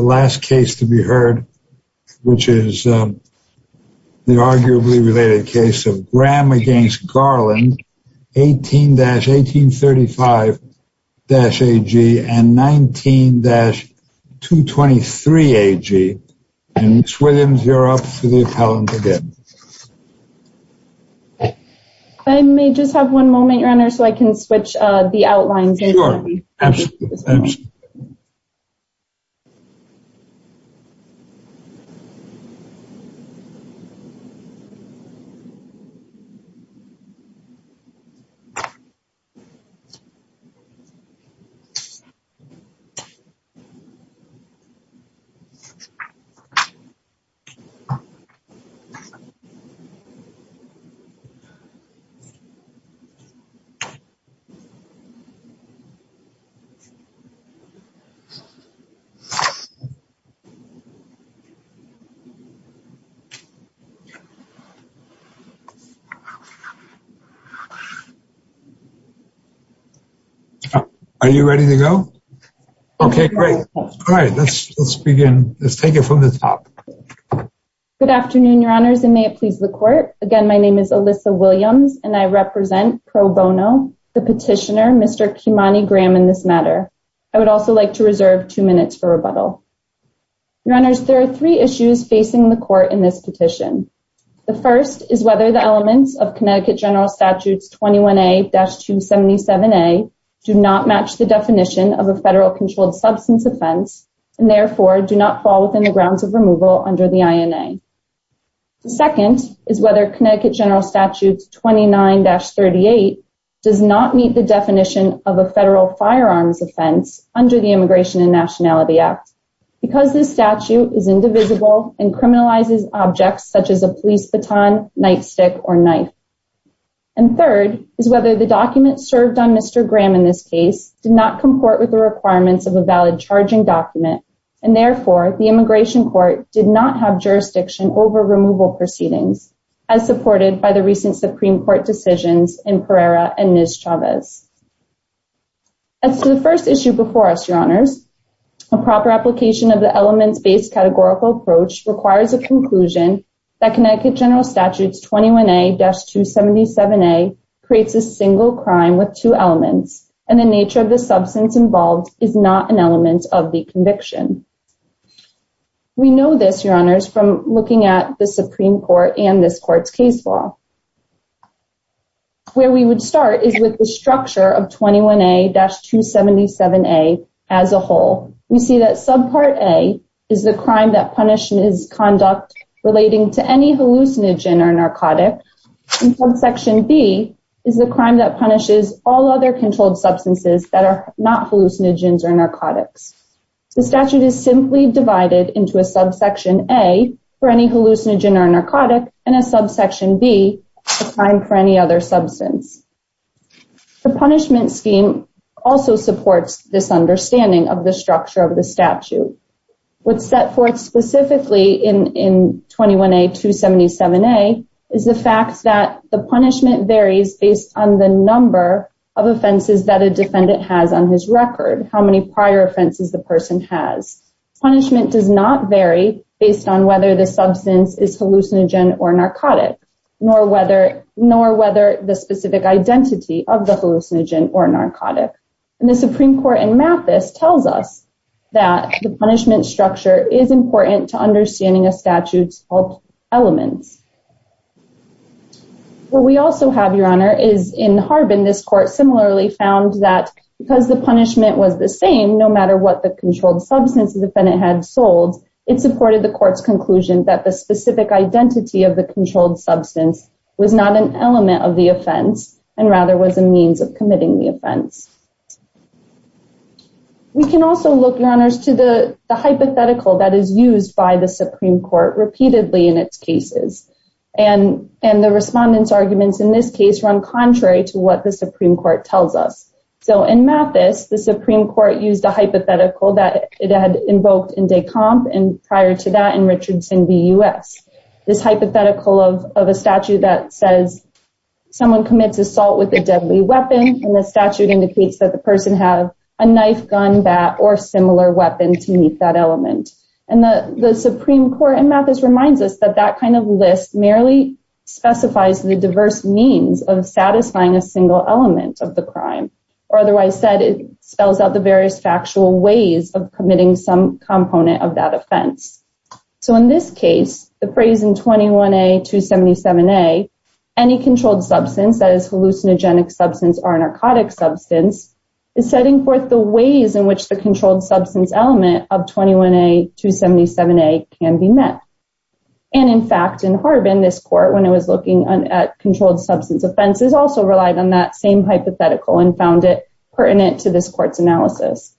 last case to be heard, which is the arguably related case of Graham against Garland, 18-1835-AG and 19-223-AG. And Ms. Williams, you're up for the appellant again. I may just have one moment, Your Honor, so I can switch the outlines. Are you ready to go? Okay, great. All right, let's begin. Let's take it from the top. Good afternoon, Your Honors, and may it please the court. Again, my name is Alyssa Williams, and I represent pro bono the petitioner, Mr. Kimani Graham, in this matter. I would also like to reserve two minutes for rebuttal. Your Honors, there are three issues facing the court in this petition. The first is whether the elements of Connecticut General Statutes 21A-277A do not match the definition of a federal controlled substance offense and therefore do not fall within the grounds of removal under the INA. The second is whether Connecticut General Statutes 29-38 does not meet the definition of a federal firearms offense under the Immigration and Nationality Act because this statute is indivisible and criminalizes objects such as a police baton, nightstick, or knife. And third is whether the document served on Mr. Graham in this case did not comport with the requirements of a valid charging document and therefore the Immigration Court did not have jurisdiction over removal proceedings, as supported by the recent Supreme Court decisions in Pereira and Ms. Chavez. As to the first issue before us, Your Honors, a proper application of the elements-based categorical approach requires a conclusion that Connecticut General Statutes 21A-277A creates a single crime with two elements and the nature of the substance involved is not an element of the conviction. We know this, Your Honors, from looking at the Supreme Court and this court's case law. Where we would start is with the structure of 21A-277A as a whole. We see that Subpart A is the crime that punishes conduct relating to any hallucinogen or narcotic and Subsection B is the crime that punishes all other controlled substances that are not hallucinogens or narcotics. The statute is simply divided into a Subsection A for any hallucinogen or narcotic and a Subsection B for any other substance. The punishment scheme also supports this understanding of the structure of the statute. What's set forth specifically in 21A-277A is the fact that the punishment varies based on the number of offenses that a defendant has on his record, how many prior offenses the person has. Punishment does not vary based on whether the substance is hallucinogen or narcotic, nor whether the specific identity of the hallucinogen or narcotic. The Supreme Court in Mathis tells us that the punishment structure is important to understanding a statute's elements. What we also have, Your Honor, is in Harbin this court similarly found that because the punishment was the same no matter what the controlled substance the defendant had sold, it supported the court's conclusion that the specific identity of the controlled substance was not an element of the offense and rather was a means of committing the offense. We can also look, Your Honors, to the hypothetical that is used by the Supreme Court repeatedly in its cases and the respondents' arguments in this case run contrary to what the Supreme Court tells us. In Mathis, the Supreme Court used a hypothetical that it had invoked in Descamps and prior to that in Richardson v. U.S. This hypothetical of a statute that says someone commits assault with a deadly weapon and the statute indicates that the person had a knife, gun, bat, or similar weapon to meet that element. The Supreme Court in Mathis reminds us that that kind of list merely specifies the diverse means of satisfying a single element of the crime. Otherwise said, it spells out the various factual ways of committing some component of that offense. In this case, the phrase in 21A.277a, any controlled substance that is a hallucinogenic substance or a narcotic substance is setting forth the ways in which the controlled substance element of 21A.277a can be met. In fact, in Harbin this court when it was looking at controlled substance offenses also relied on that same hypothetical and found it pertinent to this court's analysis.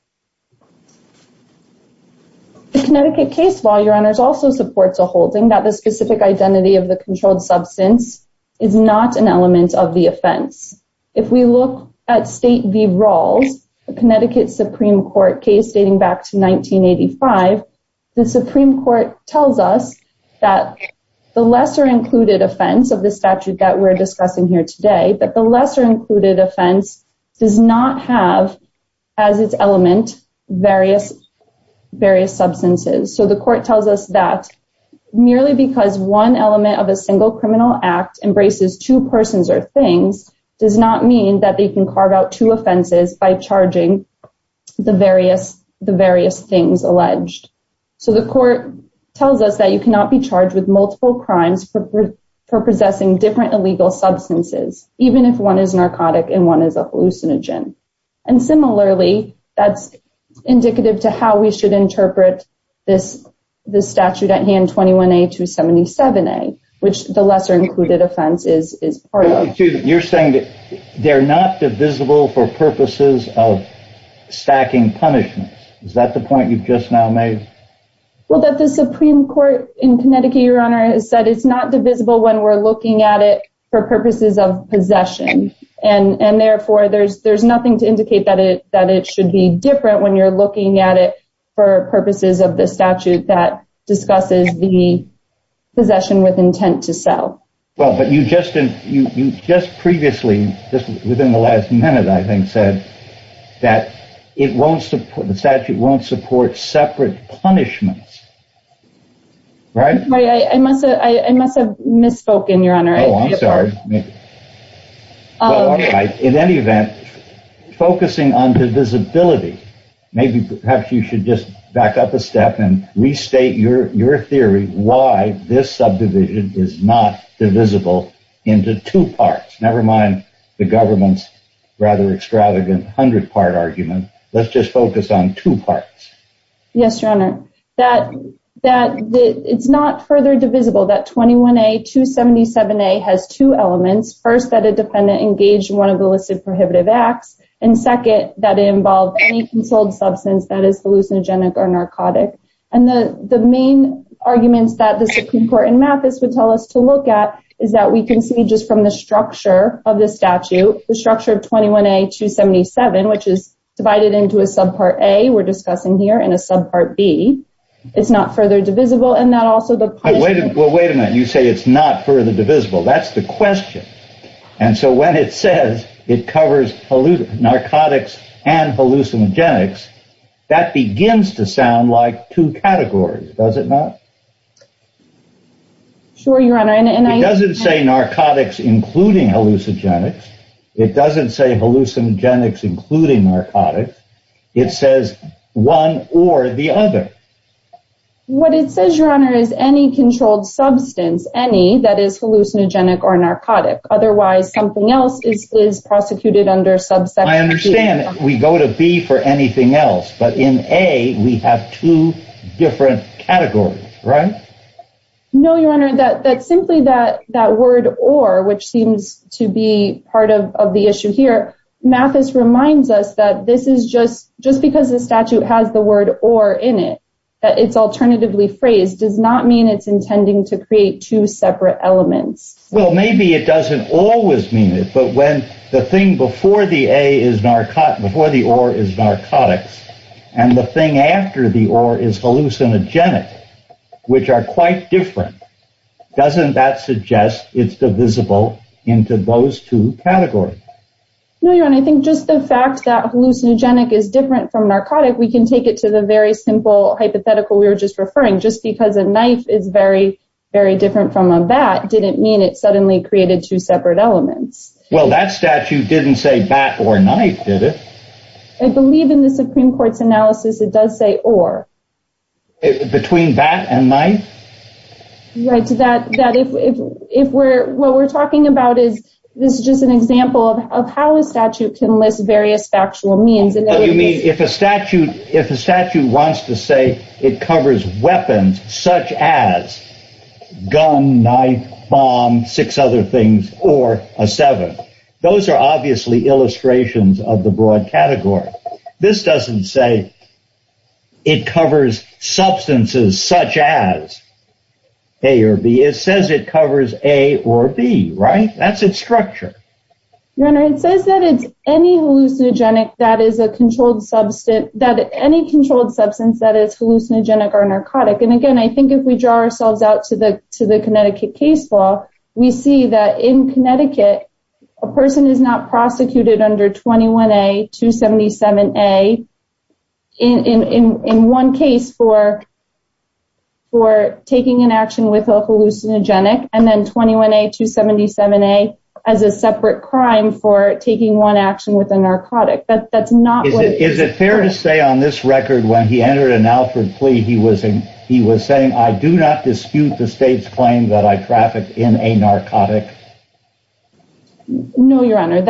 The Connecticut case law, Your Honors, also supports a holding that the specific identity of the controlled substance is not an element of the offense. If we look at State v. Rawls, a Connecticut Supreme Court case dating back to 1985, the Supreme Court tells us that the lesser included offense of the statute that we're discussing here today, that the lesser included offense does not have as its element various substances. So the court tells us that merely because one element of a single criminal act embraces two persons or things does not mean that they can carve out two offenses by charging the various things alleged. So the court tells us that you cannot be charged with multiple crimes for possessing different illegal substances, even if one is narcotic and one is a hallucinogen. And similarly, that's indicative to how we should interpret this statute at hand, 21A.277a, which the lesser included offense is part of. You're saying that they're not divisible for purposes of stacking punishments. Is that the point you've just now made? Well, that the Supreme Court in Connecticut, Your Honor, has said it's not divisible when we're looking at it for purposes of possession. And therefore, there's nothing to indicate that it should be different when you're looking at it for purposes of the statute Well, but you just previously, just within the last minute, I think, said that the statute won't support separate punishments. Right? I must have misspoken, Your Honor. Oh, I'm sorry. In any event, focusing on divisibility, maybe perhaps you should just back up a step and restate your theory why this subdivision is not divisible into two parts. Never mind the government's rather extravagant hundred part argument. Let's just focus on two parts. Yes, Your Honor. That it's not further divisible that 21A.277a has two elements. First, that a defendant engaged in one of the listed prohibitive acts. And second, that it involved any consoled substance that is hallucinogenic or narcotic. And the main arguments that the Supreme Court in Mathis would tell us to look at is that we can see just from the structure of the statute, the structure of 21A.277, which is divided into a subpart A, we're discussing here, and a subpart B. It's not further divisible. Wait a minute. You say it's not further divisible. That's the question. And so when it says it covers narcotics and hallucinogenics, that begins to sound like two categories, does it not? Sure, Your Honor. It doesn't say narcotics including hallucinogenics. It doesn't say hallucinogenics including narcotics. It says one or the other. What it says, Your Honor, is any controlled substance, any that is hallucinogenic or narcotic. Otherwise, something else is prosecuted under subsection B. I understand. We go to B for anything else. But in A, we have two different categories, right? No, Your Honor. Simply that word or, which seems to be part of the issue here, Mathis reminds us that this is just because the statute has the word or in it, that it's alternatively phrased, does not mean it's intending to create two separate elements. Well, maybe it doesn't always mean it. But when the thing before the or is narcotics and the thing after the or is hallucinogenic, which are quite different, doesn't that suggest it's divisible into those two categories? No, Your Honor. I think just the fact that hallucinogenic is different from narcotic, we can take it to the very simple hypothetical we were just referring. Just because a knife is very, very different from a bat didn't mean it suddenly created two separate elements. Well, that statute didn't say bat or knife, did it? I believe in the Supreme Court's analysis, it does say or. Between bat and knife? Right. That if we're, what we're talking about is, this is just an example of how a statute can list various factual means. You mean if a statute, if a statute wants to say it covers weapons such as gun, knife, bomb, six other things, or a seven. Those are obviously illustrations of the broad category. This doesn't say it covers substances such as A or B. It says it covers A or B, right? That's its structure. Your Honor, it says that it's any hallucinogenic that is a controlled substance, that any controlled substance that is hallucinogenic or narcotic. And again, I think if we draw ourselves out to the Connecticut case law, we see that in Connecticut, a person is not prosecuted under 21A, 277A, in one case for taking an action with a hallucinogenic, and then 21A, 277A as a separate crime for taking one action with a narcotic. Is it fair to say on this record when he entered an Alfred plea, he was saying, I do not dispute the state's claim that I trafficked in a narcotic? No, Your Honor.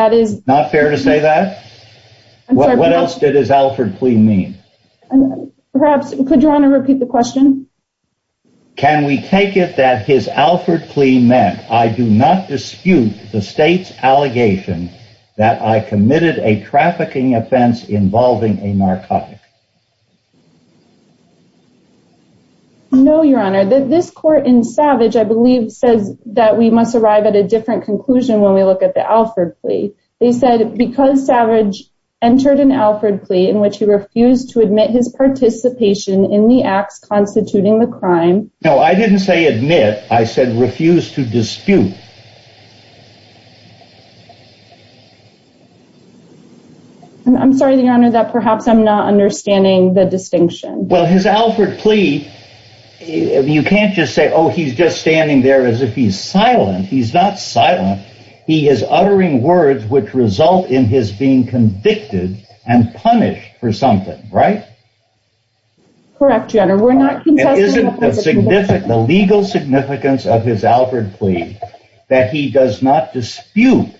Not fair to say that? What else did his Alfred plea mean? Perhaps, could Your Honor repeat the question? Can we take it that his Alfred plea meant, I do not dispute the state's allegation that I committed a trafficking offense involving a narcotic? No, Your Honor. This court in Savage, I believe, says that we must arrive at a different conclusion when we look at the Alfred plea. They said, because Savage entered an Alfred plea in which he refused to admit his participation in the acts constituting the crime. No, I didn't say admit. I said refuse to dispute. I'm sorry, Your Honor, that perhaps I'm not understanding the distinction. Well, his Alfred plea, you can't just say, oh, he's just standing there as if he's silent. He's not silent. He is uttering words which result in his being convicted and punished for something, right? Correct, Your Honor. It isn't the legal significance of his Alfred plea that he does not dispute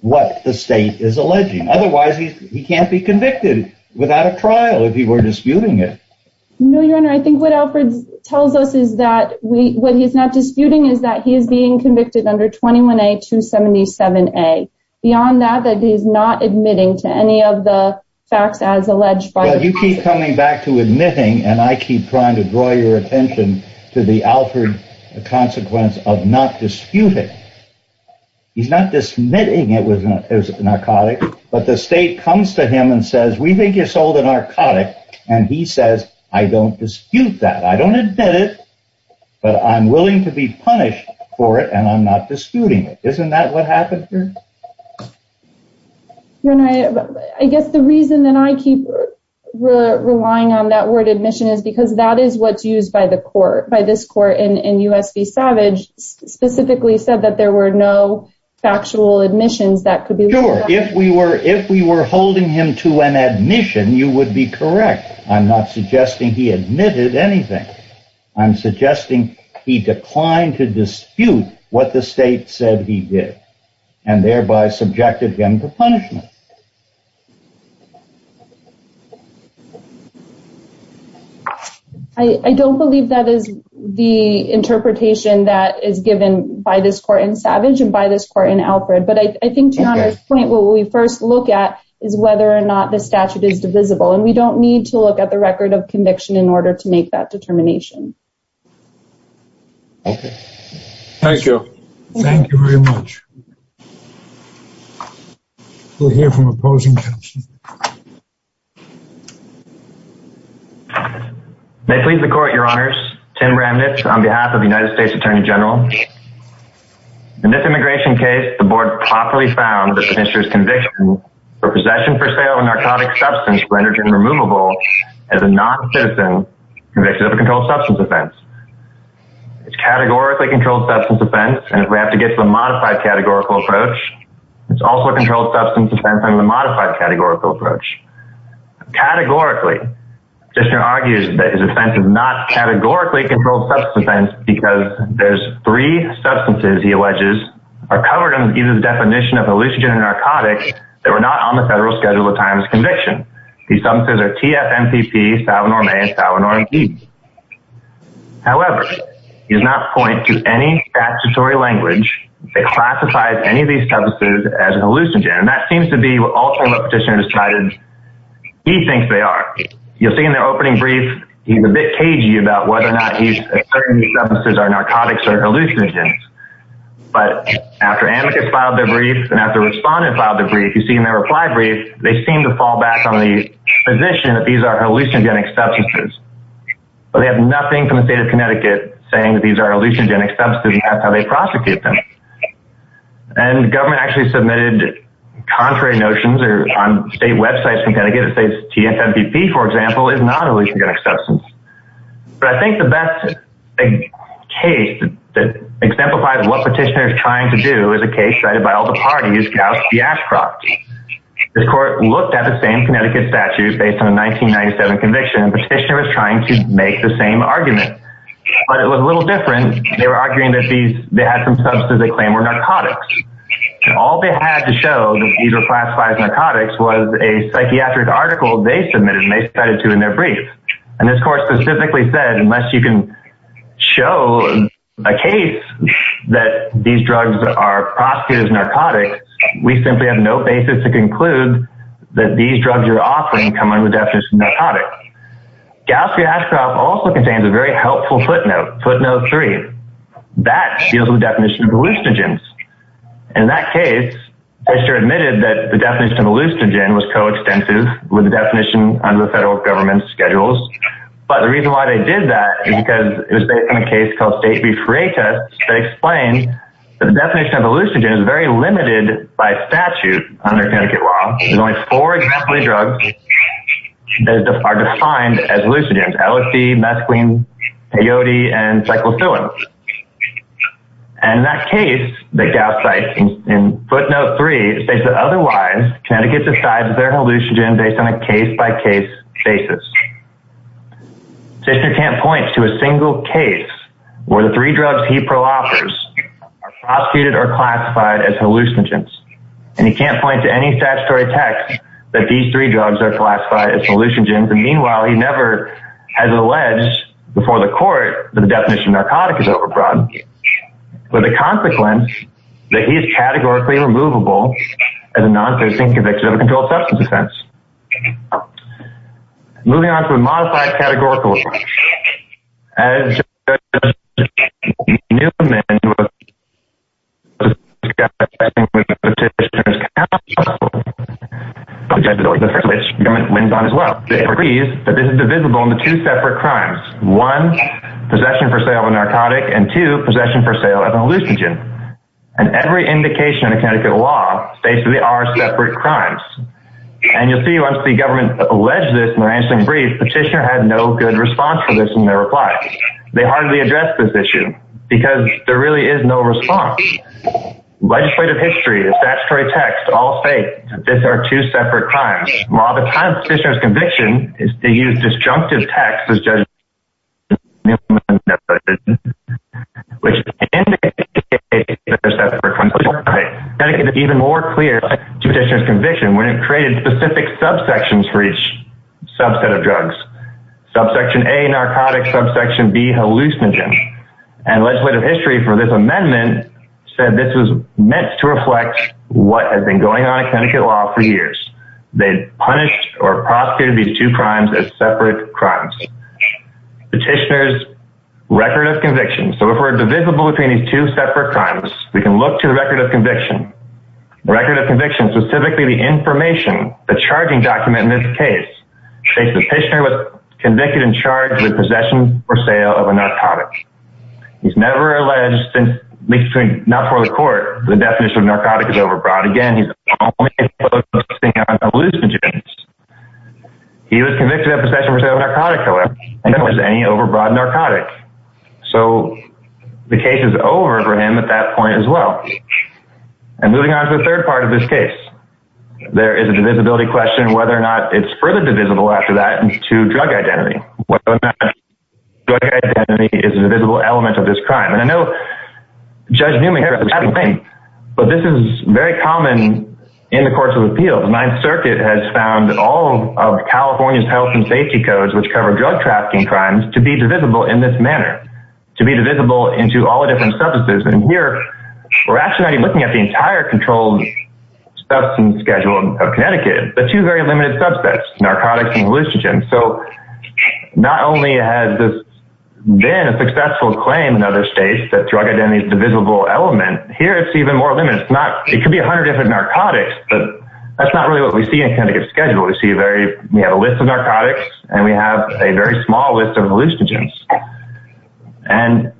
what the state is alleging. Otherwise, he can't be convicted without a trial if he were disputing it. No, Your Honor. I think what Alfred tells us is that what he's not disputing is that he's being convicted under 21A.277A. Beyond that, that he's not admitting to any of the facts as alleged by the state. Well, you keep coming back to admitting, and I keep trying to draw your attention to the Alfred consequence of not disputing. He's not dismissing it as narcotic, but the state comes to him and says, we think you sold a narcotic, and he says, I don't dispute that. I don't admit it, but I'm willing to be punished for it, and I'm not disputing it. Isn't that what happened here? Your Honor, I guess the reason that I keep relying on that word admission is because that is what's used by this court in U.S. v. Savage, specifically said that there were no factual admissions that could be... Sure, if we were holding him to an admission, you would be correct. I'm not suggesting he admitted anything. I'm suggesting he declined to dispute what the state said he did, and thereby subjected him to punishment. I don't believe that is the interpretation that is given by this court in Savage and by this court in Alfred, but I think to Your Honor's point, what we first look at is whether or not the statute is divisible, and we don't need to look at the record of conviction in order to make that determination. Thank you. Thank you very much. We'll hear from opposing counsel. May it please the court, Your Honors, Tim Ramnitz on behalf of the United States Attorney General. In this immigration case, the board properly found that the commissioner's conviction for possession for sale of a narcotic substance rendered him removable as a non-citizen convicted of a controlled substance offense. It's a categorically controlled substance offense, and if we have to get to the modified categorical approach, it's also a controlled substance offense under the modified categorical approach. Categorically, the petitioner argues that his offense is not categorically a controlled substance offense because there's three substances he alleges are covered under the definition of a hallucinogenic narcotic that were not on the federal schedule at the time of his conviction. These substances are TF-NPP, salvinoramane, and salvinoramine. However, he does not point to any statutory language that classifies any of these substances as a hallucinogen, and that seems to be what all former petitioners try to—he thinks they are. You'll see in their opening brief, he's a bit cagey about whether or not he's asserting these substances are narcotics or hallucinogens. But after amicus filed their brief, and after the respondent filed their brief, you see in their reply brief, they seem to fall back on the position that these are hallucinogenic substances. They have nothing from the state of Connecticut saying that these are hallucinogenic substances. That's how they prosecute them. And the government actually submitted contrary notions on state websites. We kind of get to say TF-NPP, for example, is not a hallucinogenic substance. But I think the best case that exemplifies what petitioners are trying to do is a case cited by all the parties, Gauss v. Ashcroft. This court looked at the same Connecticut statute based on a 1997 conviction, and the petitioner was trying to make the same argument, but it was a little different. They were arguing that they had some substances they claimed were narcotics. All they had to show that these were classified as narcotics was a psychiatric article they submitted, and they cited to in their brief. And this court specifically said, unless you can show a case that these drugs are prosecuted as narcotics, we simply have no basis to conclude that these drugs you're offering come under the definition of narcotics. Gauss v. Ashcroft also contains a very helpful footnote, footnote three. That deals with the definition of hallucinogens. In that case, Fisher admitted that the definition of a hallucinogen was coextensive with the definition under the federal government's schedules. But the reason why they did that is because it was based on a case called state brief rate test that explained that the definition of a hallucinogen is very limited by statute under Connecticut law. There's only four exemplary drugs that are defined as hallucinogens. LSD, mesquine, peyote, and cyclophilin. And that case that Gauss cites in footnote three states that otherwise, Connecticut decides they're hallucinogens based on a case-by-case basis. Fisher can't point to a single case where the three drugs he pro-offers are prosecuted or classified as hallucinogens. And he can't point to any statutory text that these three drugs are classified as hallucinogens. And meanwhile, he never has alleged before the court that the definition of narcotic is over-broadened. With the consequence that he is categorically removable as a non-facing convict of a controlled substance offense. Moving on to a modified categorical approach. As Judge Newman was discussing with Petitioner's counsel, which the government wins on as well, agrees that this is divisible into two separate crimes. One, possession for sale of a narcotic. And two, possession for sale of a hallucinogen. And every indication in Connecticut law states that they are separate crimes. And you'll see once the government alleged this in their answering brief, Petitioner had no good response to this in their reply. They hardly addressed this issue. Because there really is no response. Legislative history, statutory text, all state that these are two separate crimes. While the kind of Petitioner's conviction is to use disjunctive text as Judge Newman noted, which indicates that they're separate crimes. Connecticut is even more clear to Petitioner's conviction when it created specific subsections for each subset of drugs. Subsection A, narcotic. Subsection B, hallucinogen. And legislative history for this amendment said this was meant to reflect what has been going on in Connecticut law for years. They punished or prosecuted these two crimes as separate crimes. Petitioner's record of conviction. So if we're divisible between these two separate crimes, we can look to the record of conviction. The record of conviction, specifically the information, the charging document in this case, states that Petitioner was convicted and charged with possession or sale of a narcotic. He's never alleged, not before the court, the definition of narcotic is overbroad. Again, he's only exposing hallucinogens. He was convicted of possession or sale of narcotic, however, and there was any overbroad narcotic. So the case is over for him at that point as well. And moving on to the third part of this case, there is a divisibility question whether or not it's further divisible after that into drug identity. Whether or not drug identity is a divisible element of this crime. And I know Judge Newman had a thing, but this is very common in the courts of appeals. The Ninth Circuit has found all of California's health and safety codes, which cover drug trafficking crimes, to be divisible in this manner, to be divisible into all the different substances. And here, we're actually looking at the entire controlled substance schedule of Connecticut, but two very limited subsets, narcotics and hallucinogens. So not only has this been a successful claim in other states that drug identity is a divisible element, here it's even more limited. It could be 100 different narcotics, but that's not really what we see in Connecticut's schedule. We have a list of narcotics, and we have a very small list of hallucinogens. And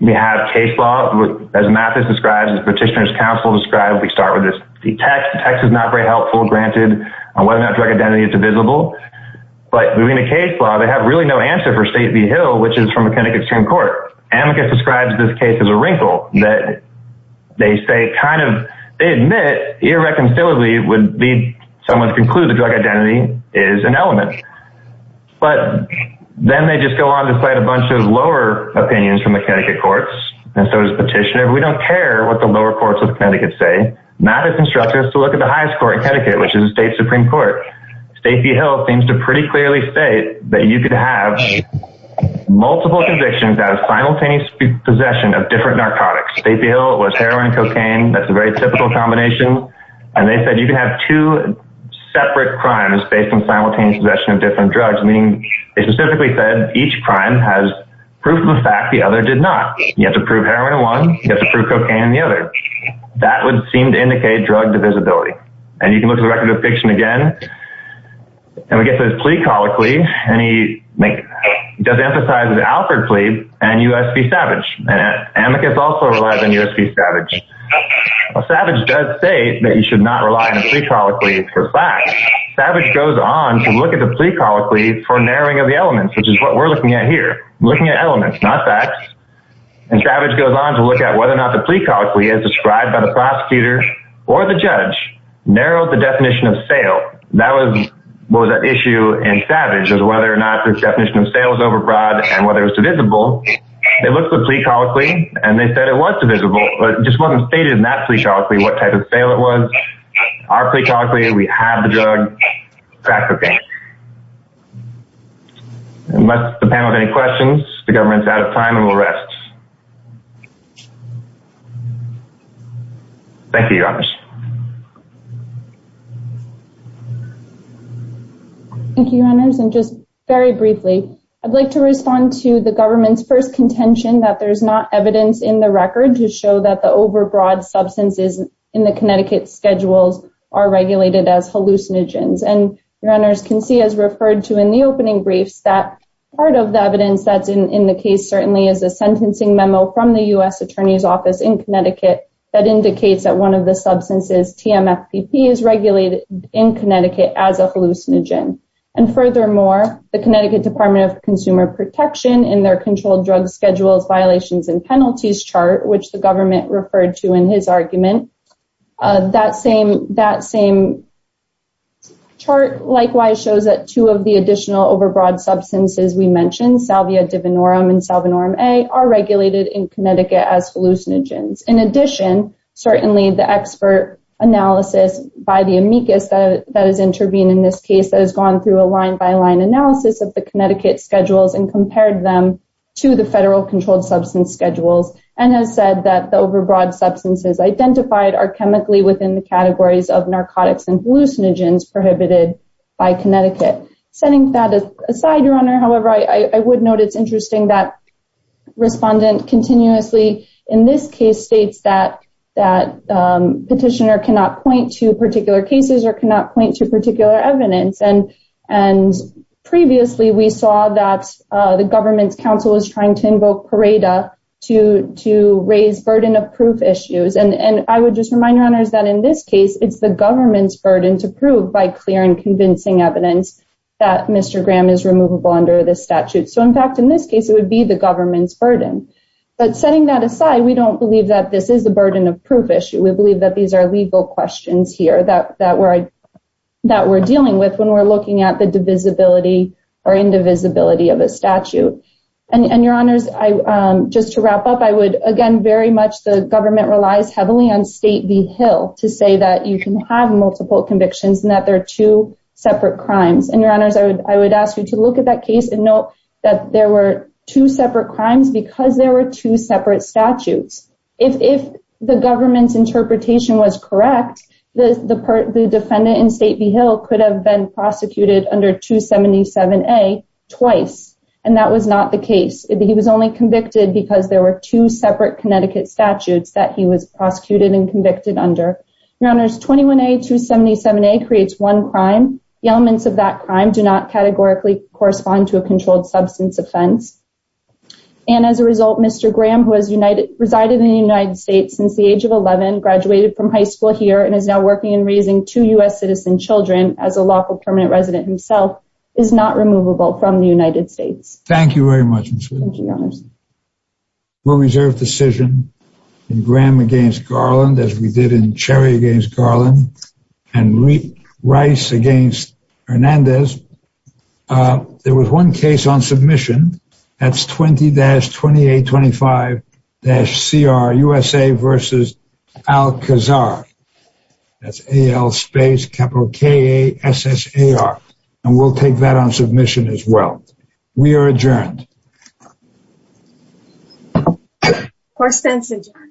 we have case law, as Mathis describes, as Petitioner's Counsel describes, we start with this text. The text is not very helpful, granted, on whether or not drug identity is divisible. But moving to case law, they have really no answer for State v. Hill, which is from a Connecticut Supreme Court. Amicus describes this case as a wrinkle. They admit irreconcilably it would lead someone to conclude that drug identity is an element. But then they just go on to cite a bunch of lower opinions from the Connecticut courts. And so does Petitioner. We don't care what the lower courts of Connecticut say. Mathis instructs us to look at the highest court in Connecticut, which is the State Supreme Court. State v. Hill seems to pretty clearly state that you could have multiple convictions out of simultaneous possession of different narcotics. State v. Hill was heroin and cocaine. That's a very typical combination. And they said you could have two separate crimes based on simultaneous possession of different drugs, meaning they specifically said each crime has proof of the fact the other did not. You have to prove heroin in one. You have to prove cocaine in the other. That would seem to indicate drug divisibility. And you can look at the record of eviction again. And we get this plea colloquy. He does emphasize the Alford plea and U.S. v. Savage. Amicus also relies on U.S. v. Savage. Savage does state that you should not rely on a plea colloquy for facts. Savage goes on to look at the plea colloquy for narrowing of the elements, which is what we're looking at here, looking at elements, not facts. And Savage goes on to look at whether or not the plea colloquy as described by the prosecutor or the judge narrowed the definition of sale. That was what was at issue in Savage, was whether or not the definition of sale was overbroad and whether it was divisible. They looked at the plea colloquy, and they said it was divisible, but it just wasn't stated in that plea colloquy what type of sale it was. Our plea colloquy, we have the drug. That's cocaine. Unless the panel has any questions, the government's out of time and will rest. Thank you, Your Honors. Thank you, Your Honors. And just very briefly, I'd like to respond to the government's first contention that there's not evidence in the record to show that the overbroad substances in the Connecticut schedules are regulated as hallucinogens. And Your Honors can see, as referred to in the opening briefs, that part of the evidence that's in the case certainly is a sentencing memo from the U.S. Attorney's Office in Connecticut that indicates that one of the substances, TMFPP, is regulated in Connecticut as a hallucinogen. And furthermore, the Connecticut Department of Consumer Protection in their controlled drug schedules violations and penalties chart, which the government referred to in his argument, that same chart likewise shows that two of the additional overbroad substances we mentioned, salvia divinorum and salvinorum A, are regulated in Connecticut as hallucinogens. In addition, certainly the expert analysis by the amicus that has intervened in this case that has gone through a line-by-line analysis of the Connecticut schedules and compared them to the federal controlled substance schedules and has said that the overbroad substances identified are chemically within the categories of narcotics and hallucinogens prohibited by Connecticut. Setting that aside, Your Honor, however, I would note it's interesting that Respondent continuously in this case states that petitioner cannot point to particular cases or cannot point to particular evidence. And previously we saw that the government's counsel was trying to invoke Parada to raise burden of proof issues. And I would just remind Your Honors that in this case, it's the government's burden to prove by clear and convincing evidence that Mr. Graham is removable under this statute. So, in fact, in this case, it would be the government's burden. But setting that aside, we don't believe that this is a burden of proof issue. We believe that these are legal questions here that we're dealing with when we're looking at the divisibility or indivisibility of a statute. And Your Honors, just to wrap up, I would, again, very much the government relies heavily on State v. Hill to say that you can have multiple convictions and that there are two separate crimes. And Your Honors, I would ask you to look at that case and note that there were two separate crimes because there were two separate statutes. If the government's interpretation was correct, the defendant in State v. Hill could have been prosecuted under 277A twice, and that was not the case. He was only convicted because there were two separate Connecticut statutes that he was prosecuted and convicted under. Your Honors, 21A, 277A creates one crime. The elements of that crime do not categorically correspond to a controlled substance offense. And as a result, Mr. Graham, who has resided in the United States since the age of 11, graduated from high school here, and is now working in raising two U.S. citizen children as a lawful permanent resident himself, is not removable from the United States. Thank you very much, Ms. Whitley. Thank you, Your Honors. We'll reserve decision in Graham v. Garland as we did in Cherry v. Garland and Rice v. Hernandez. There was one case on submission. That's 20-2825-CR, USA v. Alcazar. That's A-L space capital K-A-S-S-A-R. And we'll take that on submission as well. We are adjourned. Court stands adjourned.